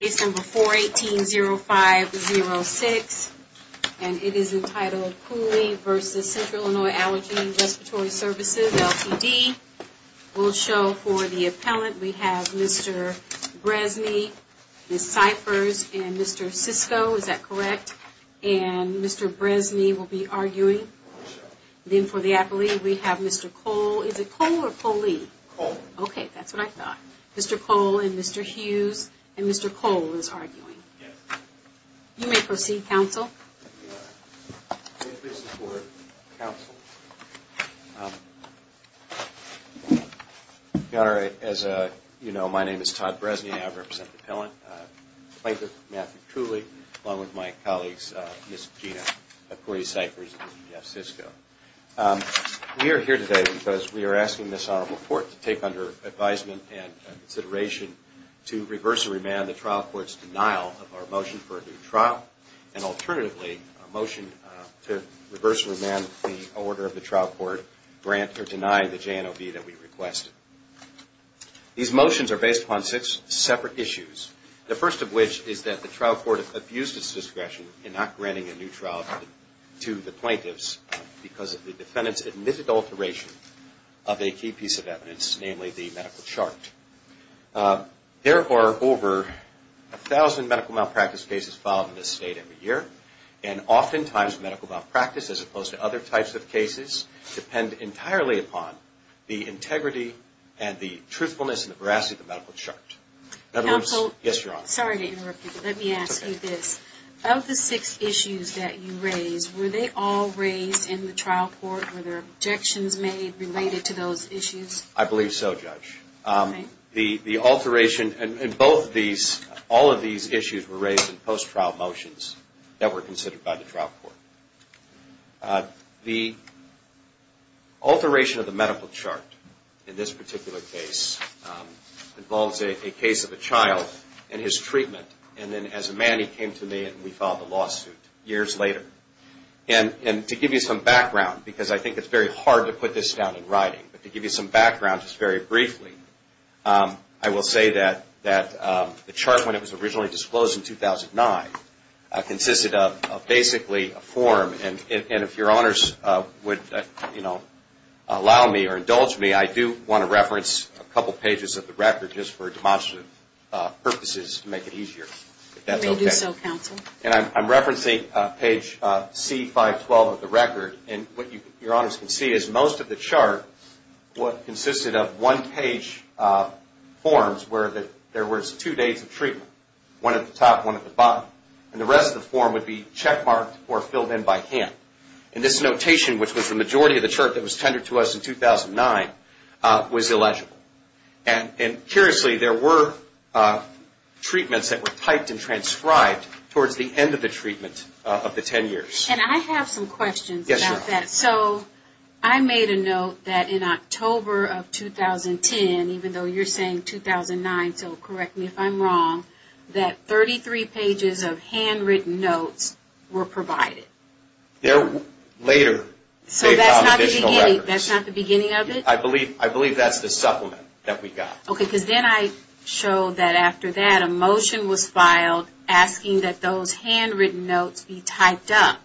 Case number 418-0506, and it is entitled Cooley v. Central Illinois Allergy & Respiratory Services, Ltd. We'll show for the appellant, we have Mr. Bresney, Ms. Cyphers, and Mr. Sisko, is that correct? And Mr. Bresney will be arguing. Then for the appellant, we have Mr. Cole, is it Cole or Coley? Cole. Okay, that's what I thought. Mr. Cole and Mr. Hughes, and Mr. Cole is arguing. Yes. You may proceed, counsel. Thank you, Your Honor. May it please the Court, counsel. Your Honor, as you know, my name is Todd Bresney, and I represent the appellant, Clayton Matthew Cooley, along with my colleagues, Ms. Gina McCoy, Ms. Cyphers, and Ms. Sisko. We are here today because we are asking this Honorable Court to take under advisement and consideration to reverse and remand the trial court's denial of our motion for a new trial, and alternatively, a motion to reverse and remand the order of the trial court to grant or deny the JNOB that we requested. These motions are based upon six separate issues, the first of which is that the trial court abused its discretion in not granting a new trial to the plaintiffs because the defendants admitted alteration of a key piece of evidence, namely the medical chart. There are over a thousand medical malpractice cases filed in this state every year, and oftentimes medical malpractice, as opposed to other types of cases, depend entirely upon the integrity and the truthfulness and the veracity of the medical chart. Counsel. Yes, Your Honor. Sorry to interrupt you, but let me ask you this. Of the six issues that you raised, were they all raised in the trial court? Were there objections made related to those issues? I believe so, Judge. The alteration in both these, all of these issues were raised in post-trial motions that were considered by the trial court. The alteration of the medical chart in this particular case involves a case of a child and his treatment, and then as a man he came to me and we filed a lawsuit years later. And to give you some background, because I think it's very hard to put this down in writing, but to give you some background just very briefly, I will say that the chart when it was originally disclosed in 2009 consisted of basically a form, and if Your Honors would, you know, allow me or indulge me, I do want to reference a couple pages of the record just for demonstrative purposes to make it easier. If that's okay. We do so, Counsel. And I'm referencing page C-512 of the record, and what Your Honors can see is most of the chart consisted of one page forms where there was two days of treatment. One at the top, one at the bottom. And the rest of the form would be checkmarked or filled in by hand. And this notation, which was the majority of the chart that was tendered to us in 2009, was illegible. And curiously, there were treatments that were typed and transcribed towards the end of the treatment of the 10 years. And I have some questions about that. Yes, Your Honor. So I made a note that in October of 2010, even though you're saying 2009, so correct me if I'm wrong, that 33 pages of handwritten notes were provided. There were later additional records. So that's not the beginning of it? I believe that's the supplement that we got. Okay. Because then I showed that after that, a motion was filed asking that those handwritten notes be typed up.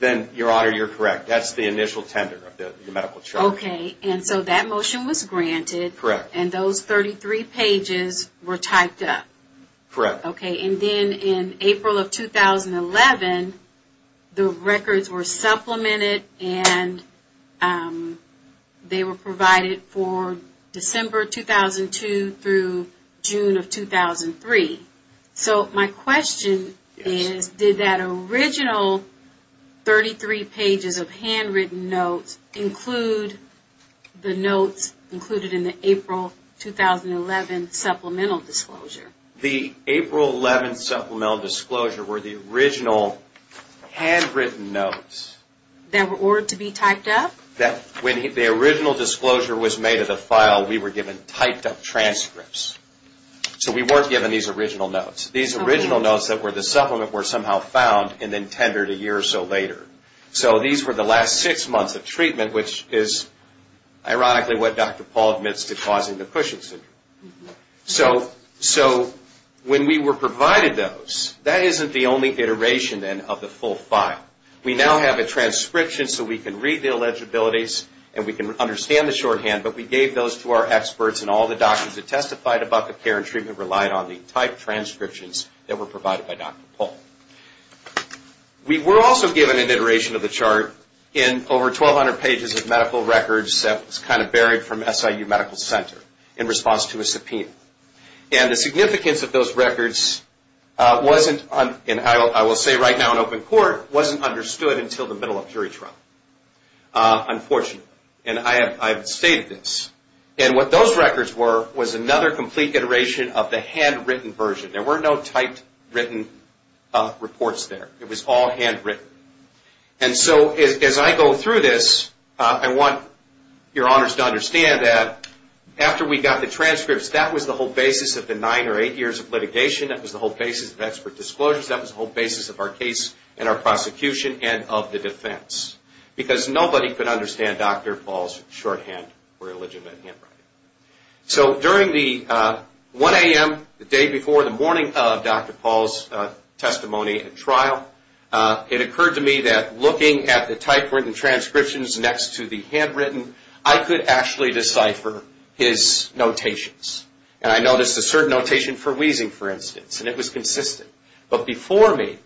Then, Your Honor, you're correct. That's the initial tender of the medical chart. Okay. And so that motion was granted. Correct. And those 33 pages were typed up. Correct. Okay. And then in April of 2011, the records were supplemented and they were provided for December 2002 through June of 2003. So my question is, did that original 33 pages of handwritten notes include the notes included in the April 2011 supplemental disclosure? The April 11 supplemental disclosure were the original handwritten notes. That were ordered to be typed up? When the original disclosure was made of the file, we were given typed up transcripts. So we weren't given these original notes. These original notes that were the supplement were somehow found and then tendered a year or so later. So these were the last six months of treatment, which is ironically what Dr. Paul admits to causing the Cushing Syndrome. So when we were provided those, that isn't the only iteration then of the full file. We now have a transcription so we can read the illegibilities and we can understand the shorthand. But we gave those to our experts and all the doctors that testified about the care and treatment relied on the typed transcriptions that were provided by Dr. Paul. We were also given an iteration of the chart in over 1,200 pages of medical records that was kind of buried from SIU Medical Center in response to a subpoena. And the significance of those records wasn't, and I will say right now in open court, wasn't understood until the middle of jury trial, unfortunately. And I have stated this. And what those records were was another complete iteration of the handwritten version. There were no typed written reports there. It was all handwritten. And so as I go through this, I want your honors to understand that after we got the transcripts, that was the whole basis of the nine or eight years of litigation. That was the whole basis of expert disclosures. That was the whole basis of our case and our prosecution and of the defense. Because nobody could understand Dr. Paul's shorthand or illegitimate handwriting. So during the 1 a.m. the day before the morning of Dr. Paul's testimony and trial, it occurred to me that looking at the typed written transcriptions next to the handwritten, I could actually decipher his notations. And I noticed a certain notation for wheezing, for instance, and it was consistent. But before me,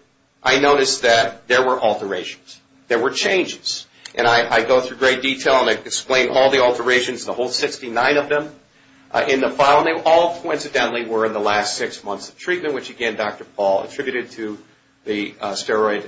I noticed that there were alterations. There were changes. And I go through great detail and I explain all the alterations, the whole 69 of them, in the file. And they all, coincidentally, were in the last six months of treatment, which again Dr. Paul attributed to the steroid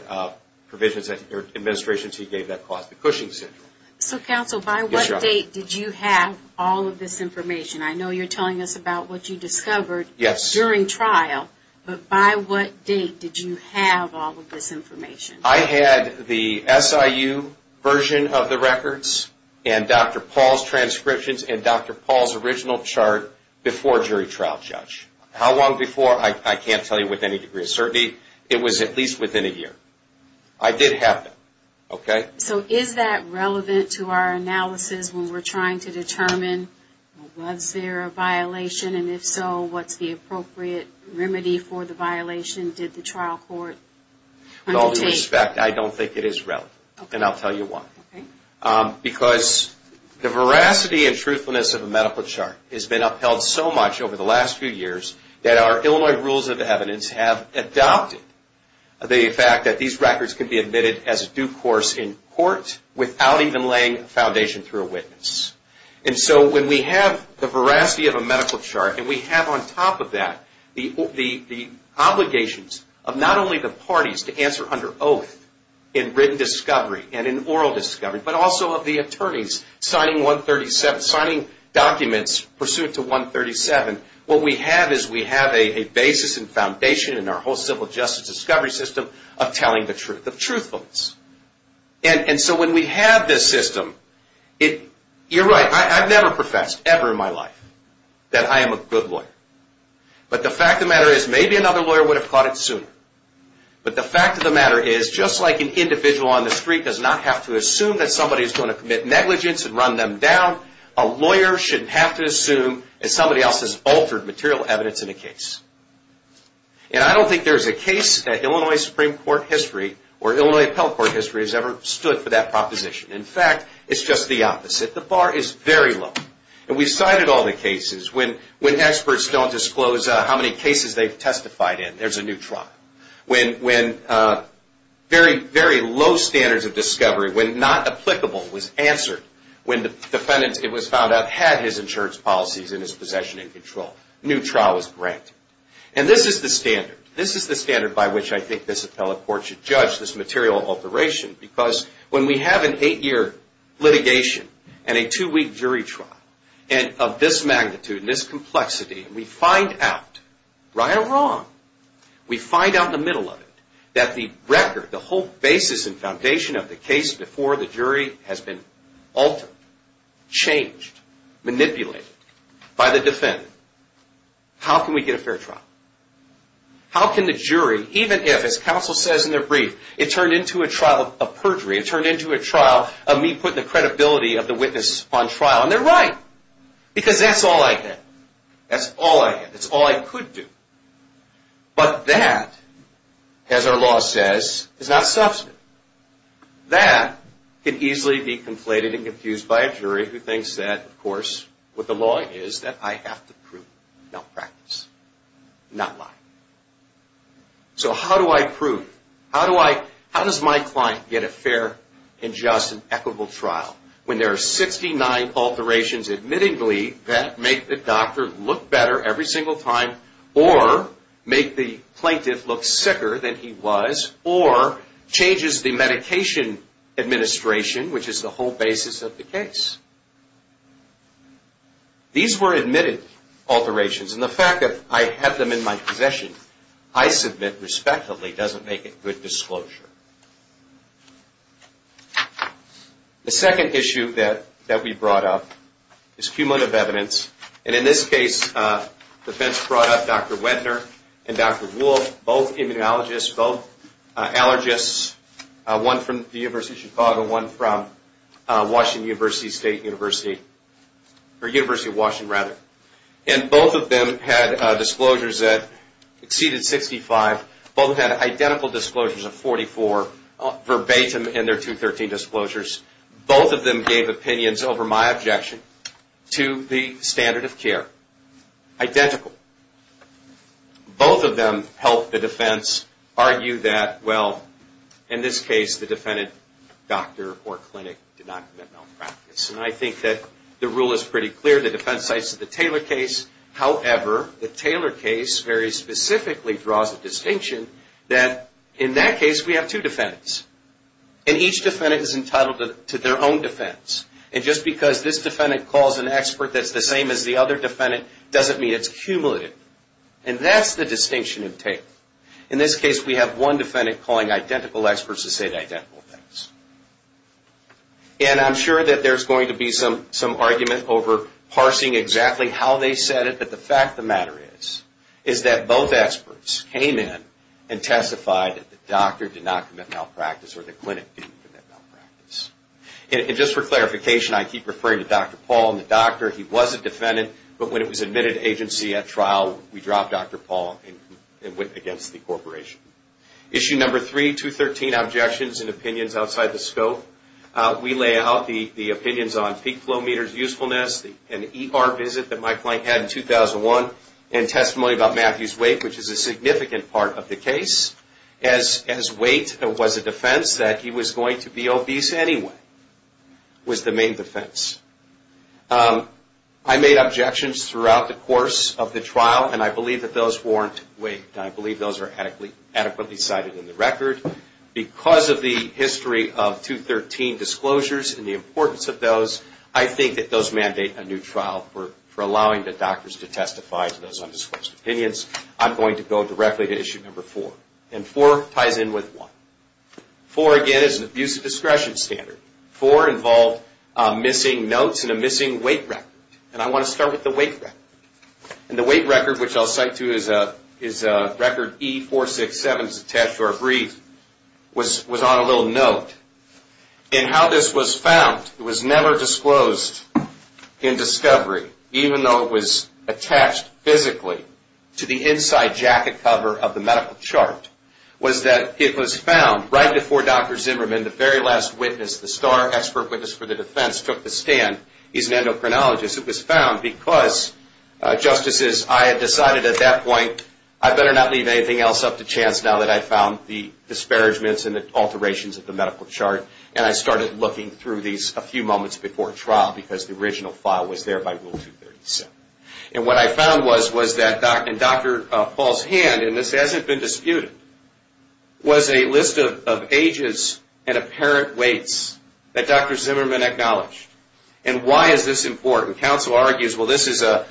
provisions or administrations he gave that caused the Cushing syndrome. So, counsel, by what date did you have all of this information? I know you're telling us about what you discovered during trial. But by what date did you have all of this information? I had the SIU version of the records and Dr. Paul's transcriptions and Dr. Paul's original chart before jury trial judge. How long before? I can't tell you with any degree of certainty. It was at least within a year. I did have them. So is that relevant to our analysis when we're trying to determine was there a violation? And if so, what's the appropriate remedy for the violation? With all due respect, I don't think it is relevant. And I'll tell you why. Because the veracity and truthfulness of a medical chart has been upheld so much over the last few years that our Illinois rules of evidence have adopted the fact that these records can be admitted as a due course in court without even laying a foundation through a witness. And so when we have the veracity of a medical chart and we have on top of that the obligations of not only the parties to answer under oath in written discovery and in oral discovery, but also of the attorneys signing documents pursuant to 137, what we have is we have a basis and foundation in our whole civil justice discovery system of telling the truth, of truthfulness. And so when we have this system, you're right, I've never professed ever in my life that I am a good lawyer. But the fact of the matter is, maybe another lawyer would have caught it sooner. But the fact of the matter is, just like an individual on the street does not have to assume that somebody is going to commit negligence and run them down, a lawyer shouldn't have to assume that somebody else has altered material evidence in a case. And I don't think there's a case that Illinois Supreme Court history or Illinois Appellate Court history has ever stood for that proposition. In fact, it's just the opposite. The bar is very low. And we've cited all the cases. When experts don't disclose how many cases they've testified in, there's a new trial. When very, very low standards of discovery, when not applicable was answered, when the defendant, it was found out, had his insurance policies and his possession in control, a new trial was granted. And this is the standard. This is the standard by which I think this appellate court should judge this material alteration, because when we have an eight-year litigation and a two-week jury trial, and of this magnitude and this complexity, and we find out right or wrong, we find out in the middle of it that the record, the whole basis and foundation of the case before the jury has been altered, changed, manipulated by the defendant, how can we get a fair trial? How can the jury, even if, as counsel says in their brief, it turned into a trial of perjury, it turned into a trial of me putting the credibility of the witness on trial, and they're right, because that's all I had. That's all I had. That's all I could do. But that, as our law says, is not substantive. That can easily be conflated and confused by a jury who thinks that, of course, what the law is, that I have to prove malpractice, not lie. So how do I prove? How does my client get a fair and just and equitable trial when there are 69 alterations, admittedly, that make the doctor look better every single time or make the plaintiff look sicker than he was or changes the medication administration, which is the whole basis of the case? These were admitted alterations, and the fact that I have them in my possession, I submit, respectively, doesn't make it good disclosure. The second issue that we brought up is cumulative evidence, and in this case, the defense brought up Dr. Wettner and Dr. Wolfe, both immunologists, both allergists, one from the University of Chicago, one from Washington University, State University, or University of Washington, rather. And both of them had disclosures that exceeded 65. Both had identical disclosures of 44 verbatim in their 213 disclosures. Both of them gave opinions over my objection to the standard of care. Identical. Both of them helped the defense argue that, well, in this case, the defendant, doctor or clinic, did not commit malpractice. And I think that the rule is pretty clear. The defense cites the Taylor case. However, the Taylor case very specifically draws the distinction that in that case, we have two defendants, and each defendant is entitled to their own defense. And just because this defendant calls an expert that's the same as the other defendant doesn't mean it's cumulative. And that's the distinction of Taylor. In this case, we have one defendant calling identical experts to say identical things. And I'm sure that there's going to be some argument over parsing exactly how they said it, but the fact of the matter is, is that both experts came in and testified that the doctor did not commit malpractice or the clinic didn't commit malpractice. And just for clarification, I keep referring to Dr. Paul and the doctor. He was a defendant, but when it was admitted to agency at trial, we dropped Dr. Paul and went against the corporation. Issue number three, 213, Objections and Opinions Outside the Scope. We lay out the opinions on peak flow meters, usefulness, an ER visit that my client had in 2001, and testimony about Matthew's weight, which is a significant part of the case. As weight was a defense that he was going to be obese anyway, was the main defense. I made objections throughout the course of the trial, and I believe that those weren't weighed. I believe those are adequately cited in the record. Because of the history of 213 disclosures and the importance of those, I think that those mandate a new trial for allowing the doctors to testify to those undisclosed opinions. I'm going to go directly to issue number four, and four ties in with one. Four, again, is an abusive discretion standard. Four involved missing notes and a missing weight record, and I want to start with the weight record. The weight record, which I'll cite to as record E467, attached to our brief, was on a little note. How this was found, it was never disclosed in discovery, even though it was attached physically to the inside jacket cover of the medical chart, was that it was found right before Dr. Zimmerman, the very last witness, the star expert witness for the defense, took the stand, he's an endocrinologist. It was found because, justices, I had decided at that point I better not leave anything else up to chance now that I found the disparagements and the alterations of the medical chart, and I started looking through these a few moments before trial because the original file was there by Rule 237. And what I found was that in Dr. Paul's hand, and this hasn't been disputed, was a list of ages and apparent weights that Dr. Zimmerman acknowledged. And why is this important? Counsel argues, well, this is an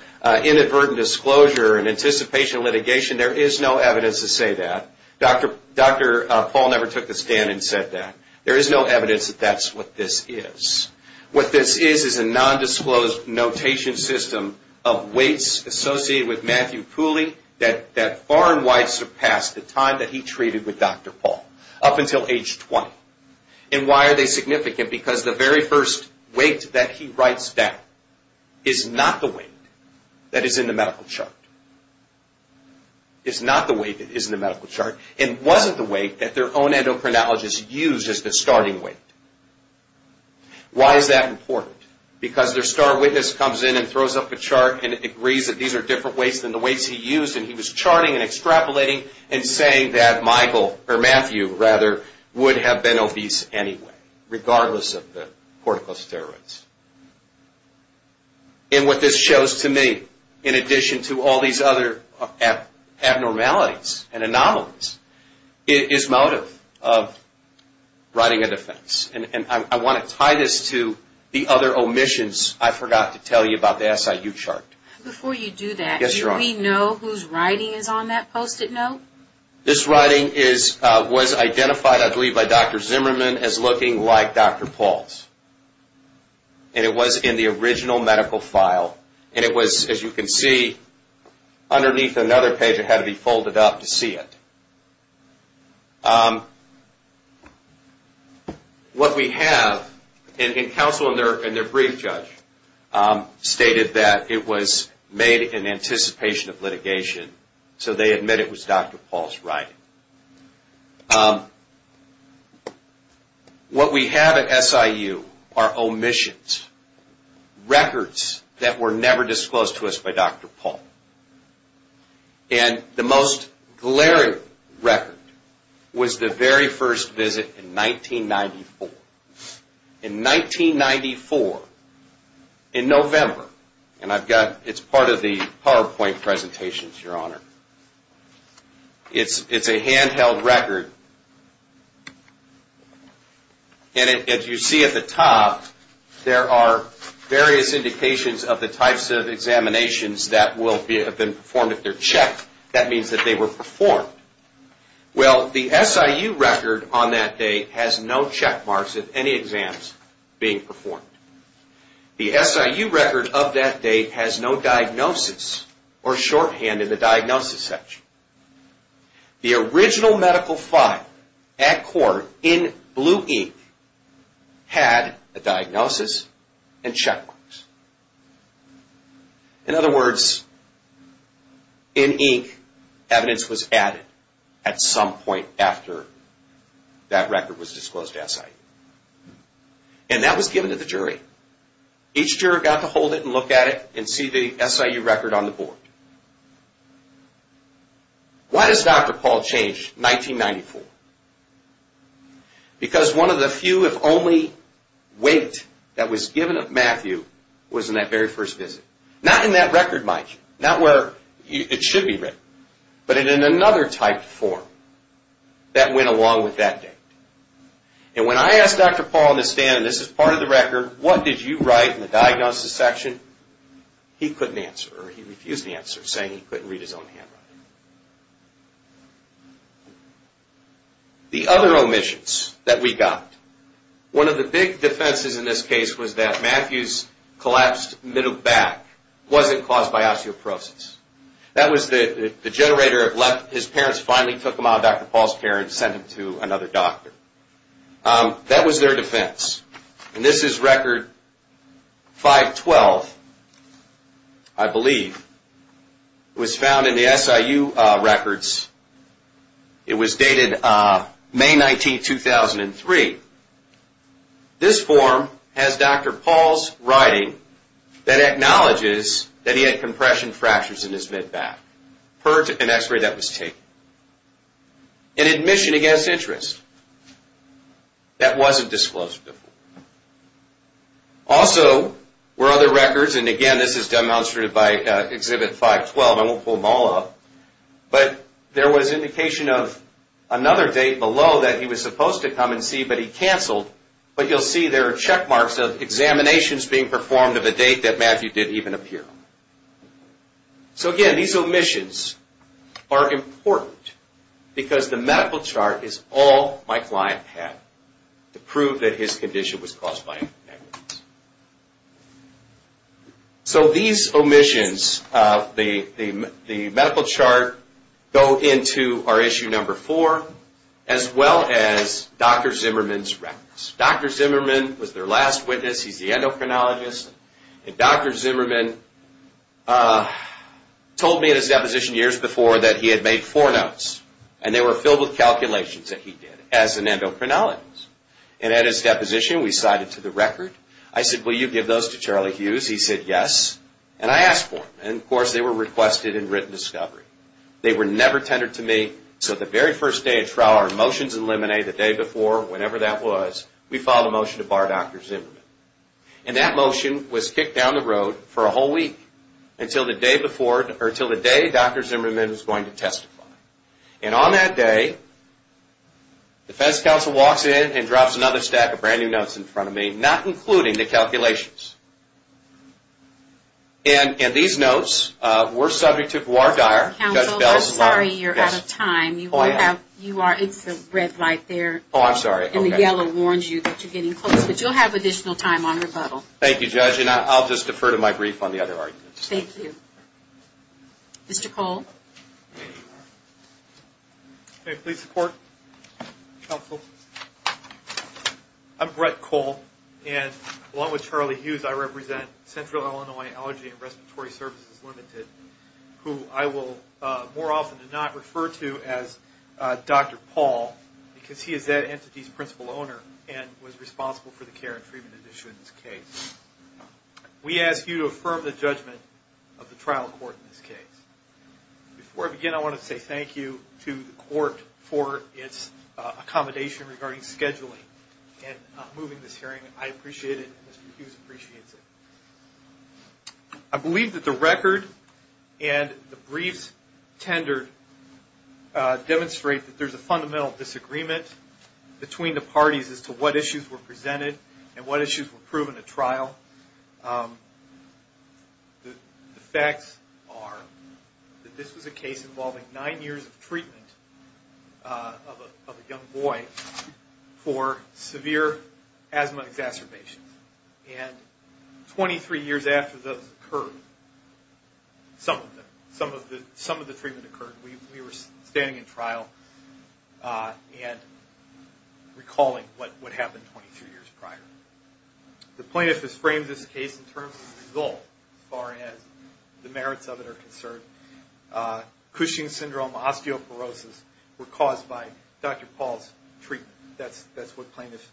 inadvertent disclosure, an anticipation of litigation. There is no evidence to say that. Dr. Paul never took the stand and said that. There is no evidence that that's what this is. What this is is a nondisclosed notation system of weights associated with Matthew Pooley that far and wide surpassed the time that he treated with Dr. Paul, up until age 20. And why are they significant? Because the very first weight that he writes down is not the weight that is in the medical chart. It's not the weight that is in the medical chart, and wasn't the weight that their own endocrinologist used as the starting weight. Why is that important? Because their star witness comes in and throws up a chart and agrees that these are different weights than the weights he used, and he was charting and extrapolating and saying that Matthew would have been obese anyway, regardless of the corticosteroids. And what this shows to me, in addition to all these other abnormalities and anomalies, is motive of writing a defense. And I want to tie this to the other omissions I forgot to tell you about the SIU chart. Before you do that, do we know whose writing is on that post-it note? This writing was identified, I believe, by Dr. Zimmerman as looking like Dr. Paul's. And it was in the original medical file. And it was, as you can see, underneath another page that had to be folded up to see it. What we have, and counsel and their brief judge stated that it was made in anticipation of litigation, so they admit it was Dr. Paul's writing. What we have at SIU are omissions, records that were never disclosed to us by Dr. Paul. And the most glaring record was the very first visit in 1994. In 1994, in November, and it's part of the PowerPoint presentations, Your Honor. It's a handheld record. And as you see at the top, there are various indications of the types of examinations that will have been performed if they're checked. That means that they were performed. Well, the SIU record on that date has no checkmarks of any exams being performed. The SIU record of that date has no diagnosis or shorthand in the diagnosis section. The original medical file at court in blue ink had a diagnosis and checkmarks. In other words, in ink, evidence was added at some point after that record was disclosed to SIU. And that was given to the jury. Each juror got to hold it and look at it and see the SIU record on the board. Why does Dr. Paul change 1994? Because one of the few, if only, weight that was given of Matthew was in that very first visit. Not in that record, Mike. Not where it should be written. But in another type form that went along with that date. And when I asked Dr. Paul in the stand, and this is part of the record, what did you write in the diagnosis section? He couldn't answer, or he refused to answer, saying he couldn't read his own handwriting. The other omissions that we got. One of the big defenses in this case was that Matthew's collapsed middle back wasn't caused by osteoporosis. That was the generator that his parents finally took him out of Dr. Paul's care and sent him to another doctor. That was their defense. And this is record 512, I believe. It was found in the SIU records. It was dated May 19, 2003. This form has Dr. Paul's writing that acknowledges that he had compression fractures in his mid-back. An x-ray that was taken. An admission against interest. That wasn't disclosed before. Also, were other records, and again, this is demonstrated by exhibit 512. I won't pull them all up. But there was indication of another date below that he was supposed to come and see, but he canceled. But you'll see there are checkmarks of examinations being performed of a date that Matthew didn't even appear on. So again, these omissions are important because the medical chart is all my client had to prove that his condition was caused by an aneurysm. So these omissions, the medical chart, go into our issue number four, as well as Dr. Zimmerman's records. Dr. Zimmerman was their last witness. He's the endocrinologist. And Dr. Zimmerman told me in his deposition years before that he had made four notes, and they were filled with calculations that he did as an endocrinologist. And at his deposition, we cited to the record. I said, will you give those to Charlie Hughes? He said, yes. And I asked for them. And of course, they were requested in written discovery. They were never tendered to me. So the very first day of trial, our motions in limine, the day before, whenever that was, we filed a motion to bar Dr. Zimmerman. And that motion was kicked down the road for a whole week until the day Dr. Zimmerman was going to testify. And on that day, defense counsel walks in and drops another stack of brand-new notes in front of me, not including the calculations. And these notes were subject to voir dire. Counsel, I'm sorry you're out of time. You are in for red light there. Oh, I'm sorry. And the yellow warns you that you're getting close, but you'll have additional time on rebuttal. Thank you, Judge. And I'll just defer to my brief on the other arguments. Thank you. Mr. Cole. Can I please support, counsel? I'm Brett Cole. And along with Charlie Hughes, I represent Central Illinois Allergy and Respiratory Services Limited, who I will more often than not refer to as Dr. Paul because he is that entity's principal owner and was responsible for the care and treatment issue in this case. We ask you to affirm the judgment of the trial court in this case. Before I begin, I want to say thank you to the court for its accommodation regarding scheduling and moving this hearing. I appreciate it, and Mr. Hughes appreciates it. I believe that the record and the briefs tendered demonstrate that there's a fundamental disagreement between the parties as to what issues were presented and what issues were proven at trial. The facts are that this was a case involving nine years of treatment of a young boy for severe asthma exacerbations. And 23 years after those occurred, some of the treatment occurred. We were standing in trial and recalling what happened 23 years prior. The plaintiff has framed this case in terms of the result as far as the merits of it are concerned. Cushing syndrome, osteoporosis were caused by Dr. Paul's treatment. That's what the plaintiff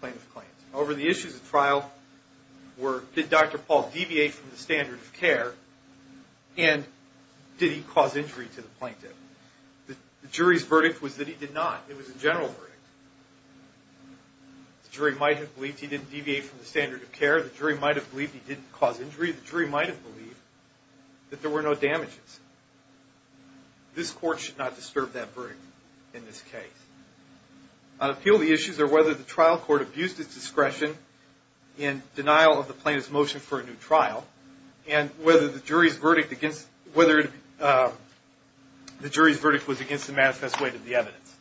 claims. Over the issues at trial, did Dr. Paul deviate from the standard of care and did he cause injury to the plaintiff? The jury's verdict was that he did not. It was a general verdict. The jury might have believed he didn't deviate from the standard of care. The jury might have believed he didn't cause injury. The jury might have believed that there were no damages. This court should not disturb that verdict in this case. On appeal, the issues are whether the trial court abused its discretion in denial of the plaintiff's motion for a new trial and whether the jury's verdict was against the manifest weight of the evidence.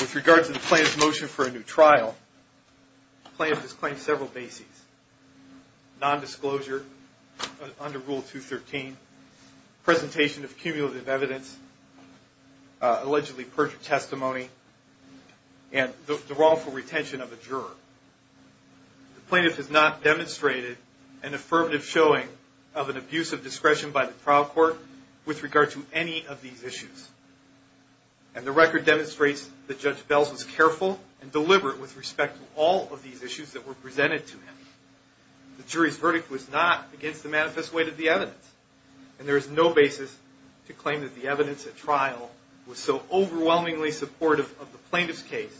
With regard to the plaintiff's motion for a new trial, the plaintiff has claimed several bases, nondisclosure under Rule 213, presentation of cumulative evidence, allegedly perjured testimony, and the wrongful retention of a juror. The plaintiff has not demonstrated an affirmative showing of an abuse of discretion by the trial court with regard to any of these issues. And the record demonstrates that Judge Bells was careful and deliberate with respect to all of these issues that were presented to him. The jury's verdict was not against the manifest weight of the evidence, and there is no basis to claim that the evidence at trial was so overwhelmingly supportive of the plaintiff's case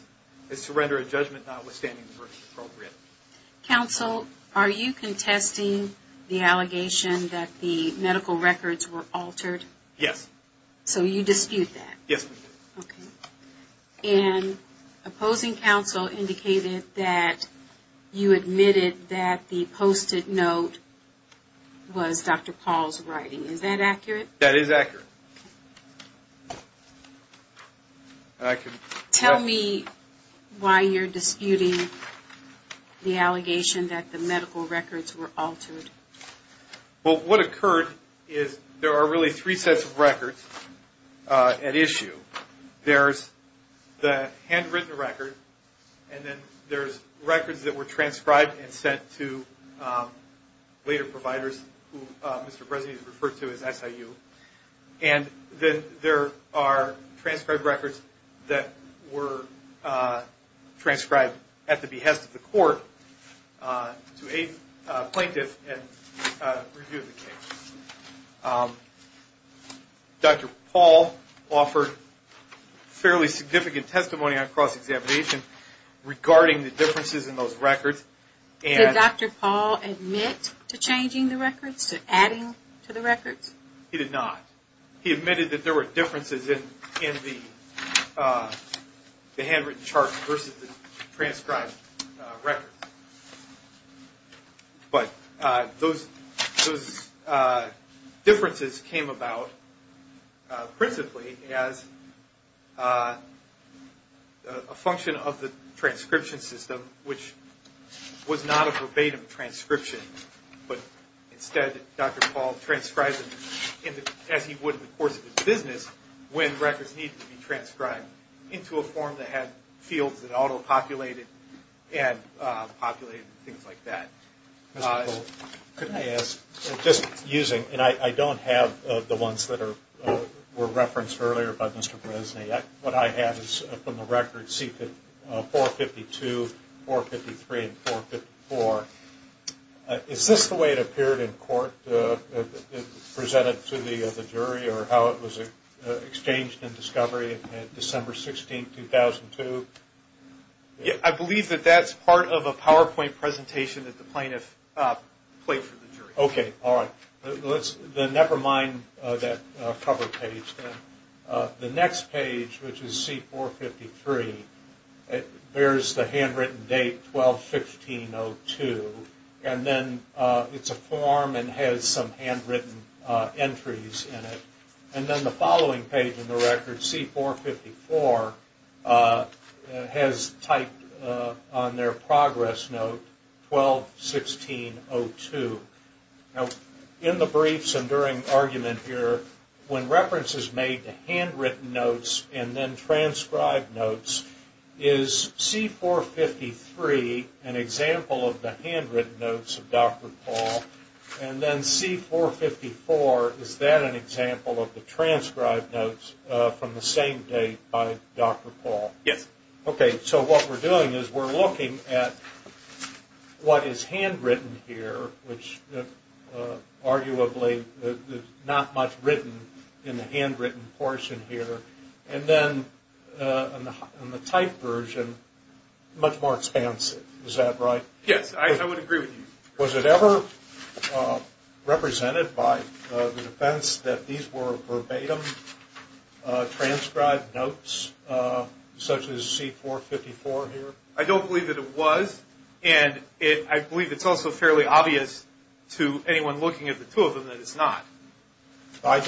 as to render a judgment notwithstanding the verdict appropriate. Counsel, are you contesting the allegation that the medical records were altered? Yes. So you dispute that? Yes, we do. Okay. And opposing counsel indicated that you admitted that the posted note was Dr. Paul's writing. Is that accurate? That is accurate. Okay. Tell me why you're disputing the allegation that the medical records were altered. Well, what occurred is there are really three sets of records at issue. There's the handwritten record, and then there's records that were transcribed and sent to later providers, who Mr. Bresnik has referred to as SIU. And then there are transcribed records that were transcribed at the behest of the court to aid plaintiffs in reviewing the case. Dr. Paul offered fairly significant testimony on cross-examination regarding the differences in those records. Did Dr. Paul admit to changing the records, to adding to the records? He did not. He admitted that there were differences in the handwritten charts versus the transcribed records. But those differences came about principally as a function of the transcription system, which was not a verbatim transcription. But instead, Dr. Paul transcribed them as he would in the course of his business when records needed to be transcribed into a form that had fields that auto-populated and populated and things like that. Mr. Bull, could I ask, just using, and I don't have the ones that were referenced earlier by Mr. Bresnik. What I have is from the records C452, 453, and 454. Is this the way it appeared in court, presented to the jury, or how it was exchanged in discovery on December 16, 2002? I believe that that's part of a PowerPoint presentation that the plaintiff played for the jury. Okay, all right. Then never mind that cover page then. The next page, which is C453, bears the handwritten date 12-15-02. And then it's a form and has some handwritten entries in it. And then the following page in the record, C454, has typed on their progress note 12-16-02. In the briefs and during argument here, when reference is made to handwritten notes and then transcribed notes, is C453 an example of the handwritten notes of Dr. Paul? And then C454, is that an example of the transcribed notes from the same date by Dr. Paul? Yes. Okay, so what we're doing is we're looking at what is handwritten here, which arguably there's not much written in the handwritten portion here. And then in the typed version, much more expansive. Is that right? Yes, I would agree with you. Was it ever represented by the defense that these were verbatim transcribed notes such as C454 here? I don't believe that it was. And I believe it's also fairly obvious to anyone looking at the two of them that it's not. I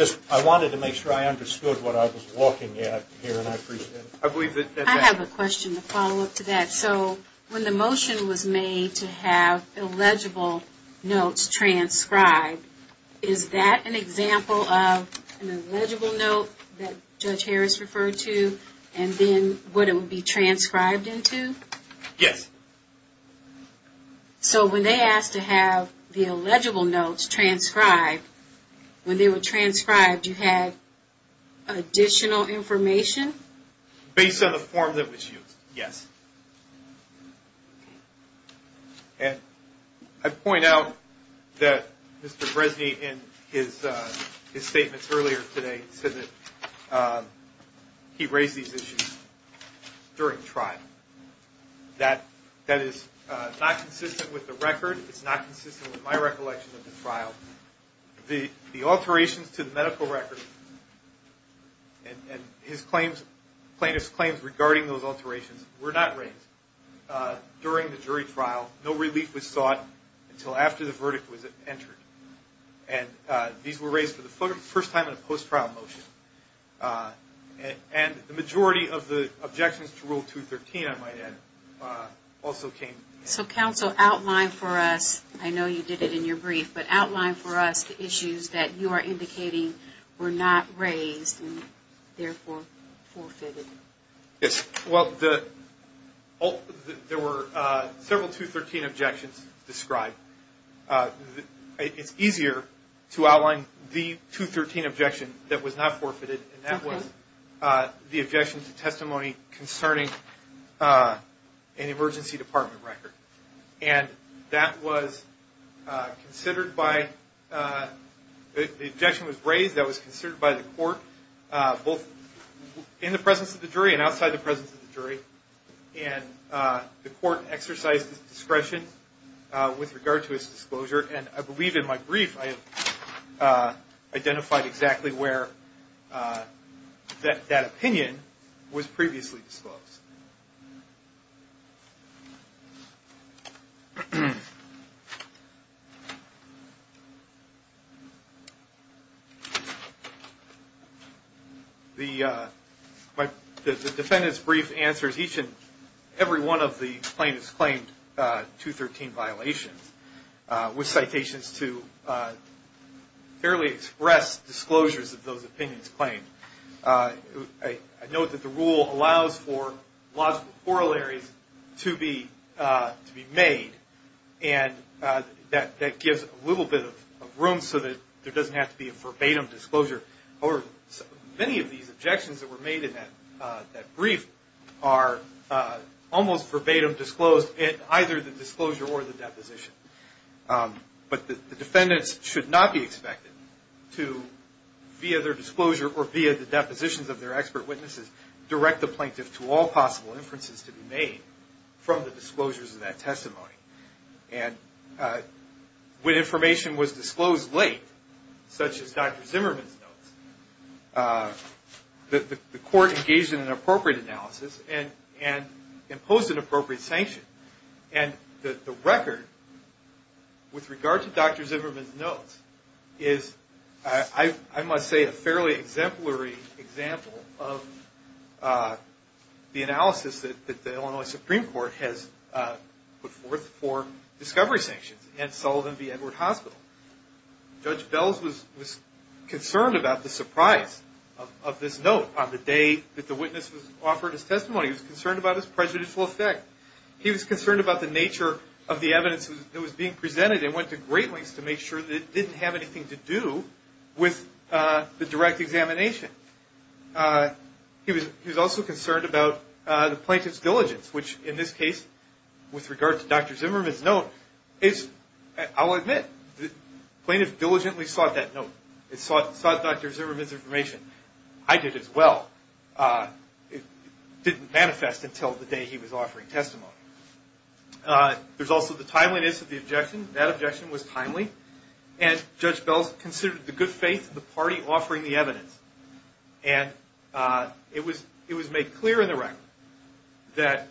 wanted to make sure I understood what I was looking at here, and I appreciate it. I have a question to follow up to that. So when the motion was made to have illegible notes transcribed, is that an example of an illegible note that Judge Harris referred to and then what it would be transcribed into? Yes. So when they asked to have the illegible notes transcribed, when they were transcribed, you had additional information? Based on the form that was used, yes. And I point out that Mr. Bresney in his statements earlier today said that he raised these issues during trial. That is not consistent with the record. It's not consistent with my recollection of the trial. The alterations to the medical record and plaintiff's claims regarding those alterations were not raised during the jury trial. No relief was sought until after the verdict was entered. And these were raised for the first time in a post-trial motion. And the majority of the objections to Rule 213, I might add, also came. So counsel, outline for us, I know you did it in your brief, but outline for us the issues that you are indicating were not raised and therefore forfeited. Yes. Well, there were several 213 objections described. It's easier to outline the 213 objection that was not forfeited, and that was the objection to testimony concerning an emergency department record. And that was considered by, the objection was raised that was considered by the court, both in the presence of the jury and outside the presence of the jury. And the court exercised its discretion with regard to its disclosure, and I believe in my brief I have identified exactly where that opinion was previously disclosed. The defendant's brief answers each and every one of the plaintiffs' claimed 213 violations, with citations to fairly express disclosures of those opinions claimed. I note that the rule allows for the plaintiffs' brief to be disclosed, with logical corollaries to be made, and that gives a little bit of room so that there doesn't have to be a verbatim disclosure. Many of these objections that were made in that brief are almost verbatim disclosed in either the disclosure or the deposition. But the defendants should not be expected to, via their disclosure or via the depositions of their expert witnesses, direct the plaintiff to all possible inferences to be made from the disclosures of that testimony. And when information was disclosed late, such as Dr. Zimmerman's notes, the court engaged in an appropriate analysis and imposed an appropriate sanction. And the record, with regard to Dr. Zimmerman's notes, is, I must say, a fairly exemplary example of the analysis that the Illinois Supreme Court has put forth for discovery sanctions against Sullivan v. Edward Hospital. Judge Bells was concerned about the surprise of this note on the day that the witness was offered his testimony. He was concerned about its prejudicial effect. He was concerned about the nature of the evidence that was being presented, and went to great lengths to make sure that it didn't have anything to do with the direct examination. He was also concerned about the plaintiff's diligence, which in this case, with regard to Dr. Zimmerman's note, is, I'll admit, the plaintiff diligently sought that note. It sought Dr. Zimmerman's information. I did as well. It didn't manifest until the day he was offering testimony. There's also the timeliness of the objection. That objection was timely. And Judge Bells considered the good faith of the party offering the evidence. And it was made clear in the record that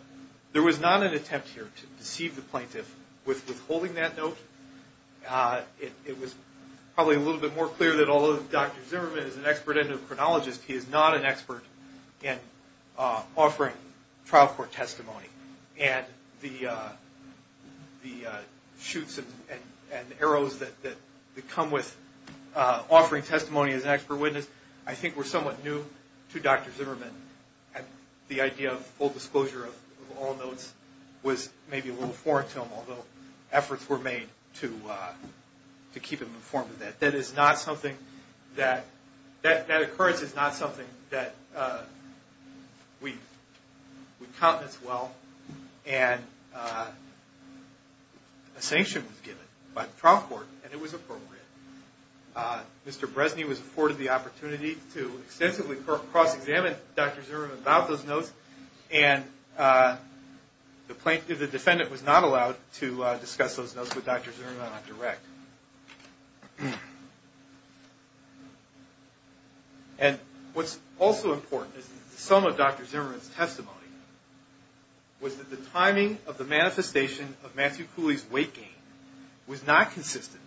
there was not an attempt here to deceive the plaintiff with withholding that note. It was probably a little bit more clear that although Dr. Zimmerman is an expert endocrinologist, he is not an expert in offering trial court testimony. And the shoots and arrows that come with offering testimony as an expert witness, I think were somewhat new to Dr. Zimmerman. The idea of full disclosure of all notes was maybe a little foreign to him, although efforts were made to keep him informed of that. That occurrence is not something that we count as well. And a sanction was given by the trial court, and it was appropriate. Mr. Bresny was afforded the opportunity to extensively cross-examine Dr. Zimmerman about those notes, and the defendant was not allowed to discuss those notes with Dr. Zimmerman on direct. And what's also important is that the sum of Dr. Zimmerman's testimony was that the timing of the manifestation of Matthew Cooley's weight gain was not consistent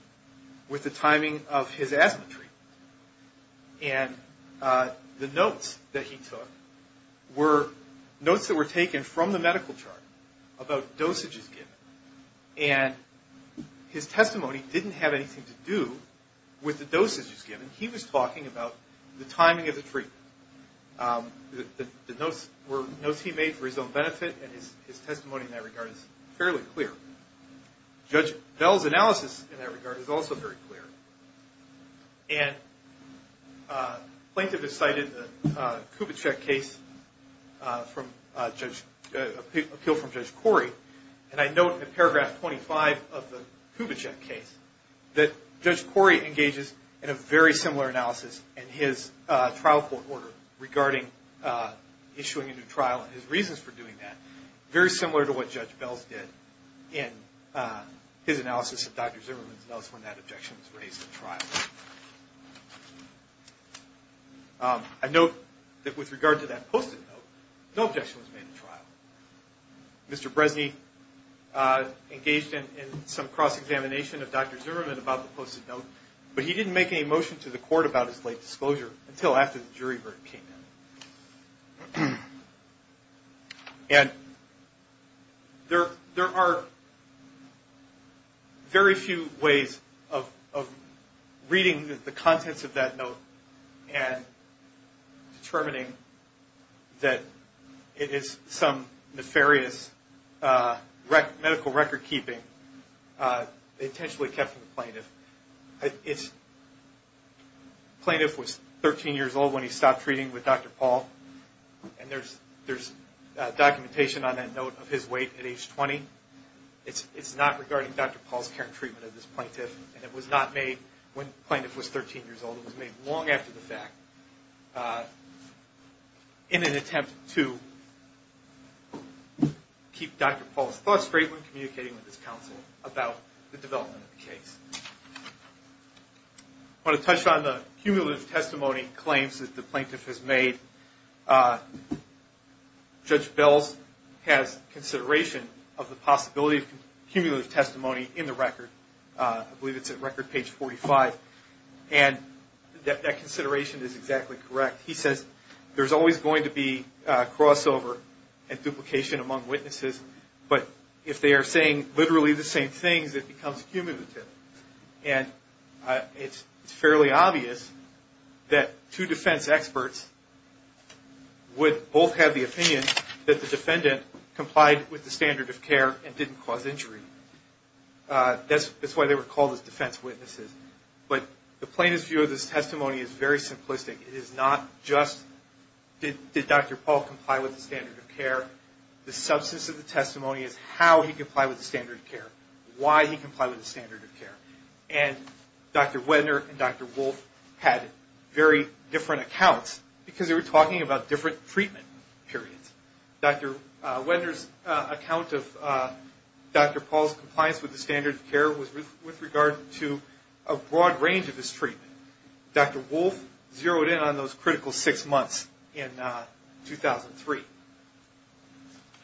with the timing of his asthma treatment. And the notes that he took were notes that were taken from the medical chart about dosages given. And his testimony didn't have anything to do with the dosages given. He was talking about the timing of the treatment. The notes were notes he made for his own benefit, and his testimony in that regard is fairly clear. Judge Bell's analysis in that regard is also very clear. And plaintiff has cited the Kubitschek case, appeal from Judge Corey, and I note in paragraph 25 of the Kubitschek case that Judge Corey engages in a very similar analysis in his trial court order regarding issuing a new trial and his reasons for doing that, very similar to what Judge Bell did in his analysis of Dr. Zimmerman's notes when that objection was raised in trial. I note that with regard to that post-it note, no objection was made in trial. Mr. Bresney engaged in some cross-examination of Dr. Zimmerman about the post-it note, but he didn't make any motion to the court about his late disclosure until after the jury verdict came in. And there are very few ways of reading the contents of that note and determining that it is some nefarious medical record-keeping intentionally kept from the plaintiff. Plaintiff was 13 years old when he stopped treating with Dr. Paul, and there's documentation on that note of his weight at age 20. It's not regarding Dr. Paul's care and treatment of this plaintiff, and it was not made when plaintiff was 13 years old. It was made long after the fact in an attempt to keep Dr. Paul's thoughts straight when communicating with his counsel about the development of the case. I want to touch on the cumulative testimony claims that the plaintiff has made. Judge Bell has consideration of the possibility of cumulative testimony in the record. I believe it's at record page 45, and that consideration is exactly correct. He says there's always going to be crossover and duplication among witnesses, but if they are saying literally the same things, it becomes cumulative. And it's fairly obvious that two defense experts would both have the opinion that the defendant complied with the standard of care and didn't cause injury. That's why they were called as defense witnesses. But the plaintiff's view of this testimony is very simplistic. It is not just did Dr. Paul comply with the standard of care. The substance of the testimony is how he complied with the standard of care, why he complied with the standard of care. And Dr. Wedner and Dr. Wolf had very different accounts because they were talking about different treatment periods. Dr. Wedner's account of Dr. Paul's compliance with the standard of care was with regard to a broad range of his treatment. Dr. Wolf zeroed in on those critical six months in 2003.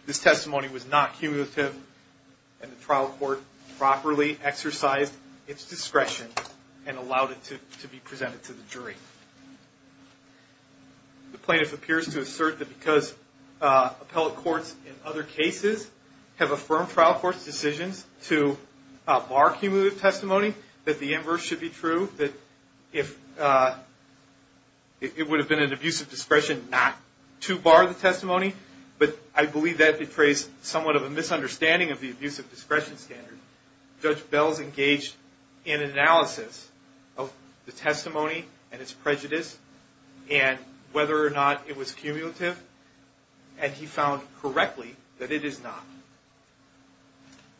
This testimony was not cumulative, and the trial court properly exercised its discretion and allowed it to be presented to the jury. The plaintiff appears to assert that because appellate courts in other cases have affirmed trial court's decisions to bar cumulative testimony, that the inverse should be true, that it would have been an abuse of discretion not to bar the testimony. But I believe that betrays somewhat of a misunderstanding of the abuse of discretion standard. Judge Bell's engaged in analysis of the testimony and its prejudice and whether or not it was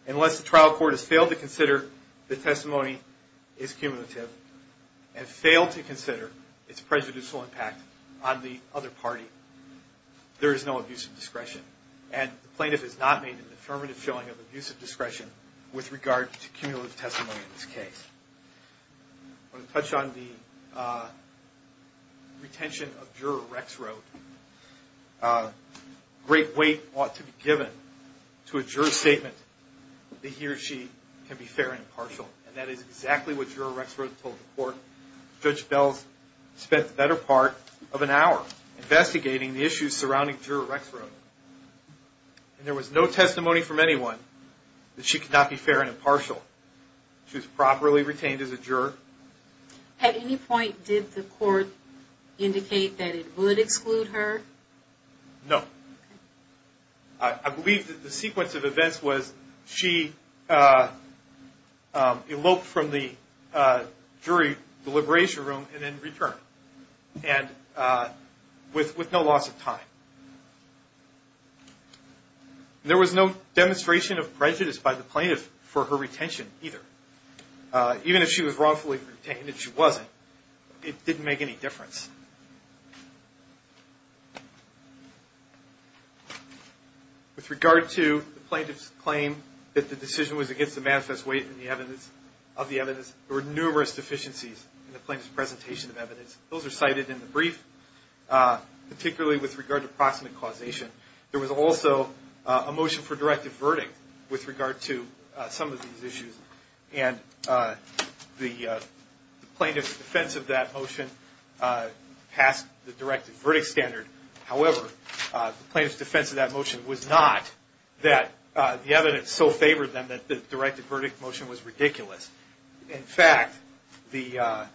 Unless the trial court has failed to consider the testimony is cumulative and failed to consider its prejudicial impact on the other party, there is no abuse of discretion. And the plaintiff has not made an affirmative showing of abuse of discretion with regard to cumulative testimony in this case. I want to touch on the retention of Juror Rex Road. Great weight ought to be given to a juror's statement that he or she can be fair and impartial. And that is exactly what Juror Rex Road told the court. Judge Bell spent the better part of an hour investigating the issues surrounding Juror Rex Road. And there was no testimony from anyone that she could not be fair and impartial. She was properly retained as a juror. At any point did the court indicate that it would exclude her? No. I believe that the sequence of events was she eloped from the jury deliberation room and then returned. And with no loss of time. There was no demonstration of prejudice by the plaintiff for her retention either. Even if she was wrongfully retained and she wasn't, it didn't make any difference. With regard to the plaintiff's claim that the decision was against the manifest weight of the evidence, there were numerous deficiencies in the plaintiff's presentation of evidence. Those are cited in the brief, particularly with regard to proximate causation. There was also a motion for directive verdict with regard to some of these issues. And the plaintiff's defense of that motion passed the directive verdict standard. However, the plaintiff's defense of that motion was not that the evidence so favored them that the directive verdict motion was ridiculous. In fact, the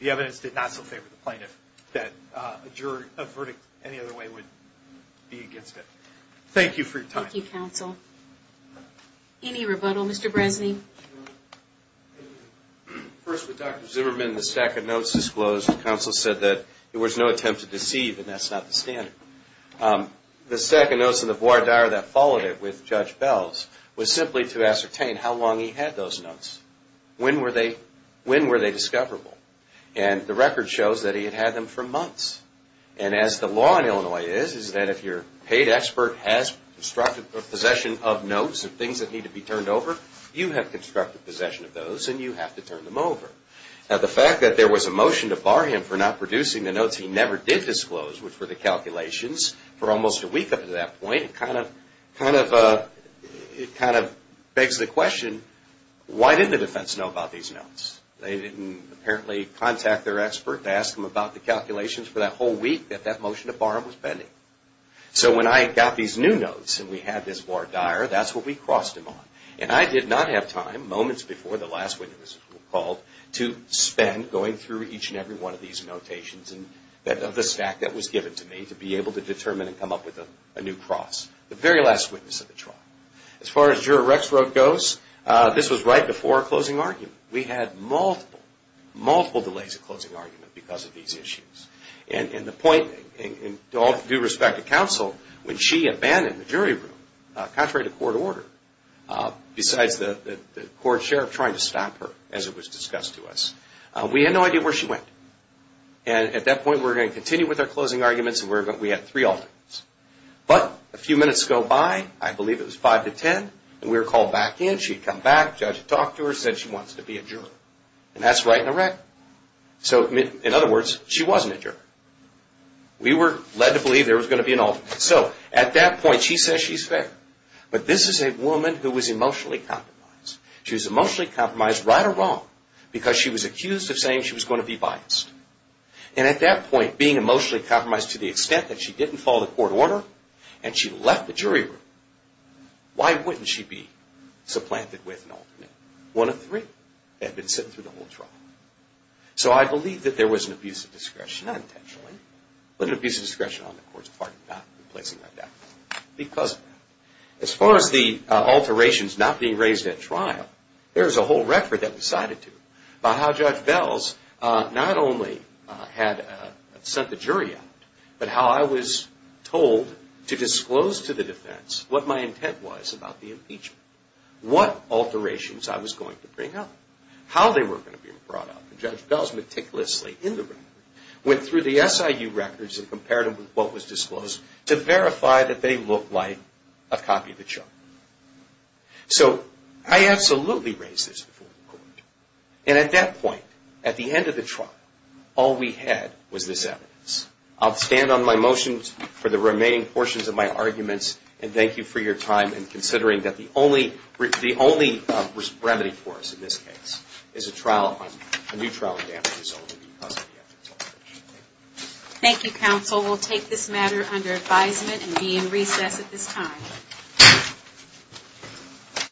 evidence did not so favor the plaintiff that a verdict any other way would be against it. Thank you for your time. Thank you, counsel. Any rebuttal, Mr. Bresney? First, with Dr. Zimmerman, the stack of notes disclosed, the counsel said that there was no attempt to deceive and that's not the standard. The stack of notes in the voir dire that followed it with Judge Bells was simply to ascertain how long he had those notes. When were they discoverable? And the record shows that he had had them for months. And as the law in Illinois is, is that if your paid expert has constructed possession of notes of things that need to be turned over, you have constructed possession of those and you have to turn them over. Now, the fact that there was a motion to bar him for not producing the notes he never did disclose, which were the calculations, for almost a week up to that point, it kind of begs the question, why didn't the defense know about these notes? They didn't apparently contact their expert to ask them about the calculations for that whole week that that motion to bar him was pending. So when I got these new notes and we had this voir dire, that's what we crossed him on. And I did not have time, moments before the last witness was called, to spend going through each and every one of these notations of the stack that was given to me to be able to determine and come up with a new cross, the very last witness of the trial. As far as Juror Rexroth goes, this was right before our closing argument. We had multiple, multiple delays of closing argument because of these issues. And the point, in all due respect to counsel, when she abandoned the jury room, contrary to court order, besides the court sheriff trying to stop her, as it was discussed to us, we had no idea where she went. And at that point, we were going to continue with our closing arguments and we had three alternates. But a few minutes go by, I believe it was 5 to 10, and we were called back in. She had come back. Judge had talked to her, said she wants to be a juror. And that's right in a wreck. So, in other words, she wasn't a juror. We were led to believe there was going to be an alternate. So, at that point, she says she's fair. But this is a woman who was emotionally compromised. She was emotionally compromised, right or wrong, because she was accused of saying she was going to be biased. And at that point, being emotionally compromised to the extent that she didn't follow the court order, and she left the jury room, why wouldn't she be supplanted with an alternate? One of three. They had been sitting through the whole trial. So, I believe that there was an abuse of discretion, not intentionally, but an abuse of discretion on the court's part not to be placing her down because of that. As far as the alterations not being raised at trial, there is a whole record that we cited to, about how Judge Bells not only had sent the jury out, but how I was told to disclose to the defense what my intent was about the impeachment. What alterations I was going to bring up. How they were going to be brought up. And Judge Bells meticulously, in the record, went through the SIU records and compared them with what was disclosed to verify that they looked like a copy of the chart. So, I absolutely raised this before the court. And at that point, at the end of the trial, all we had was this evidence. And thank you for your time in considering that the only remedy for us, in this case, is a new trial in damages only because of the evidence. Thank you, counsel. We'll take this matter under advisement and be in recess at this time.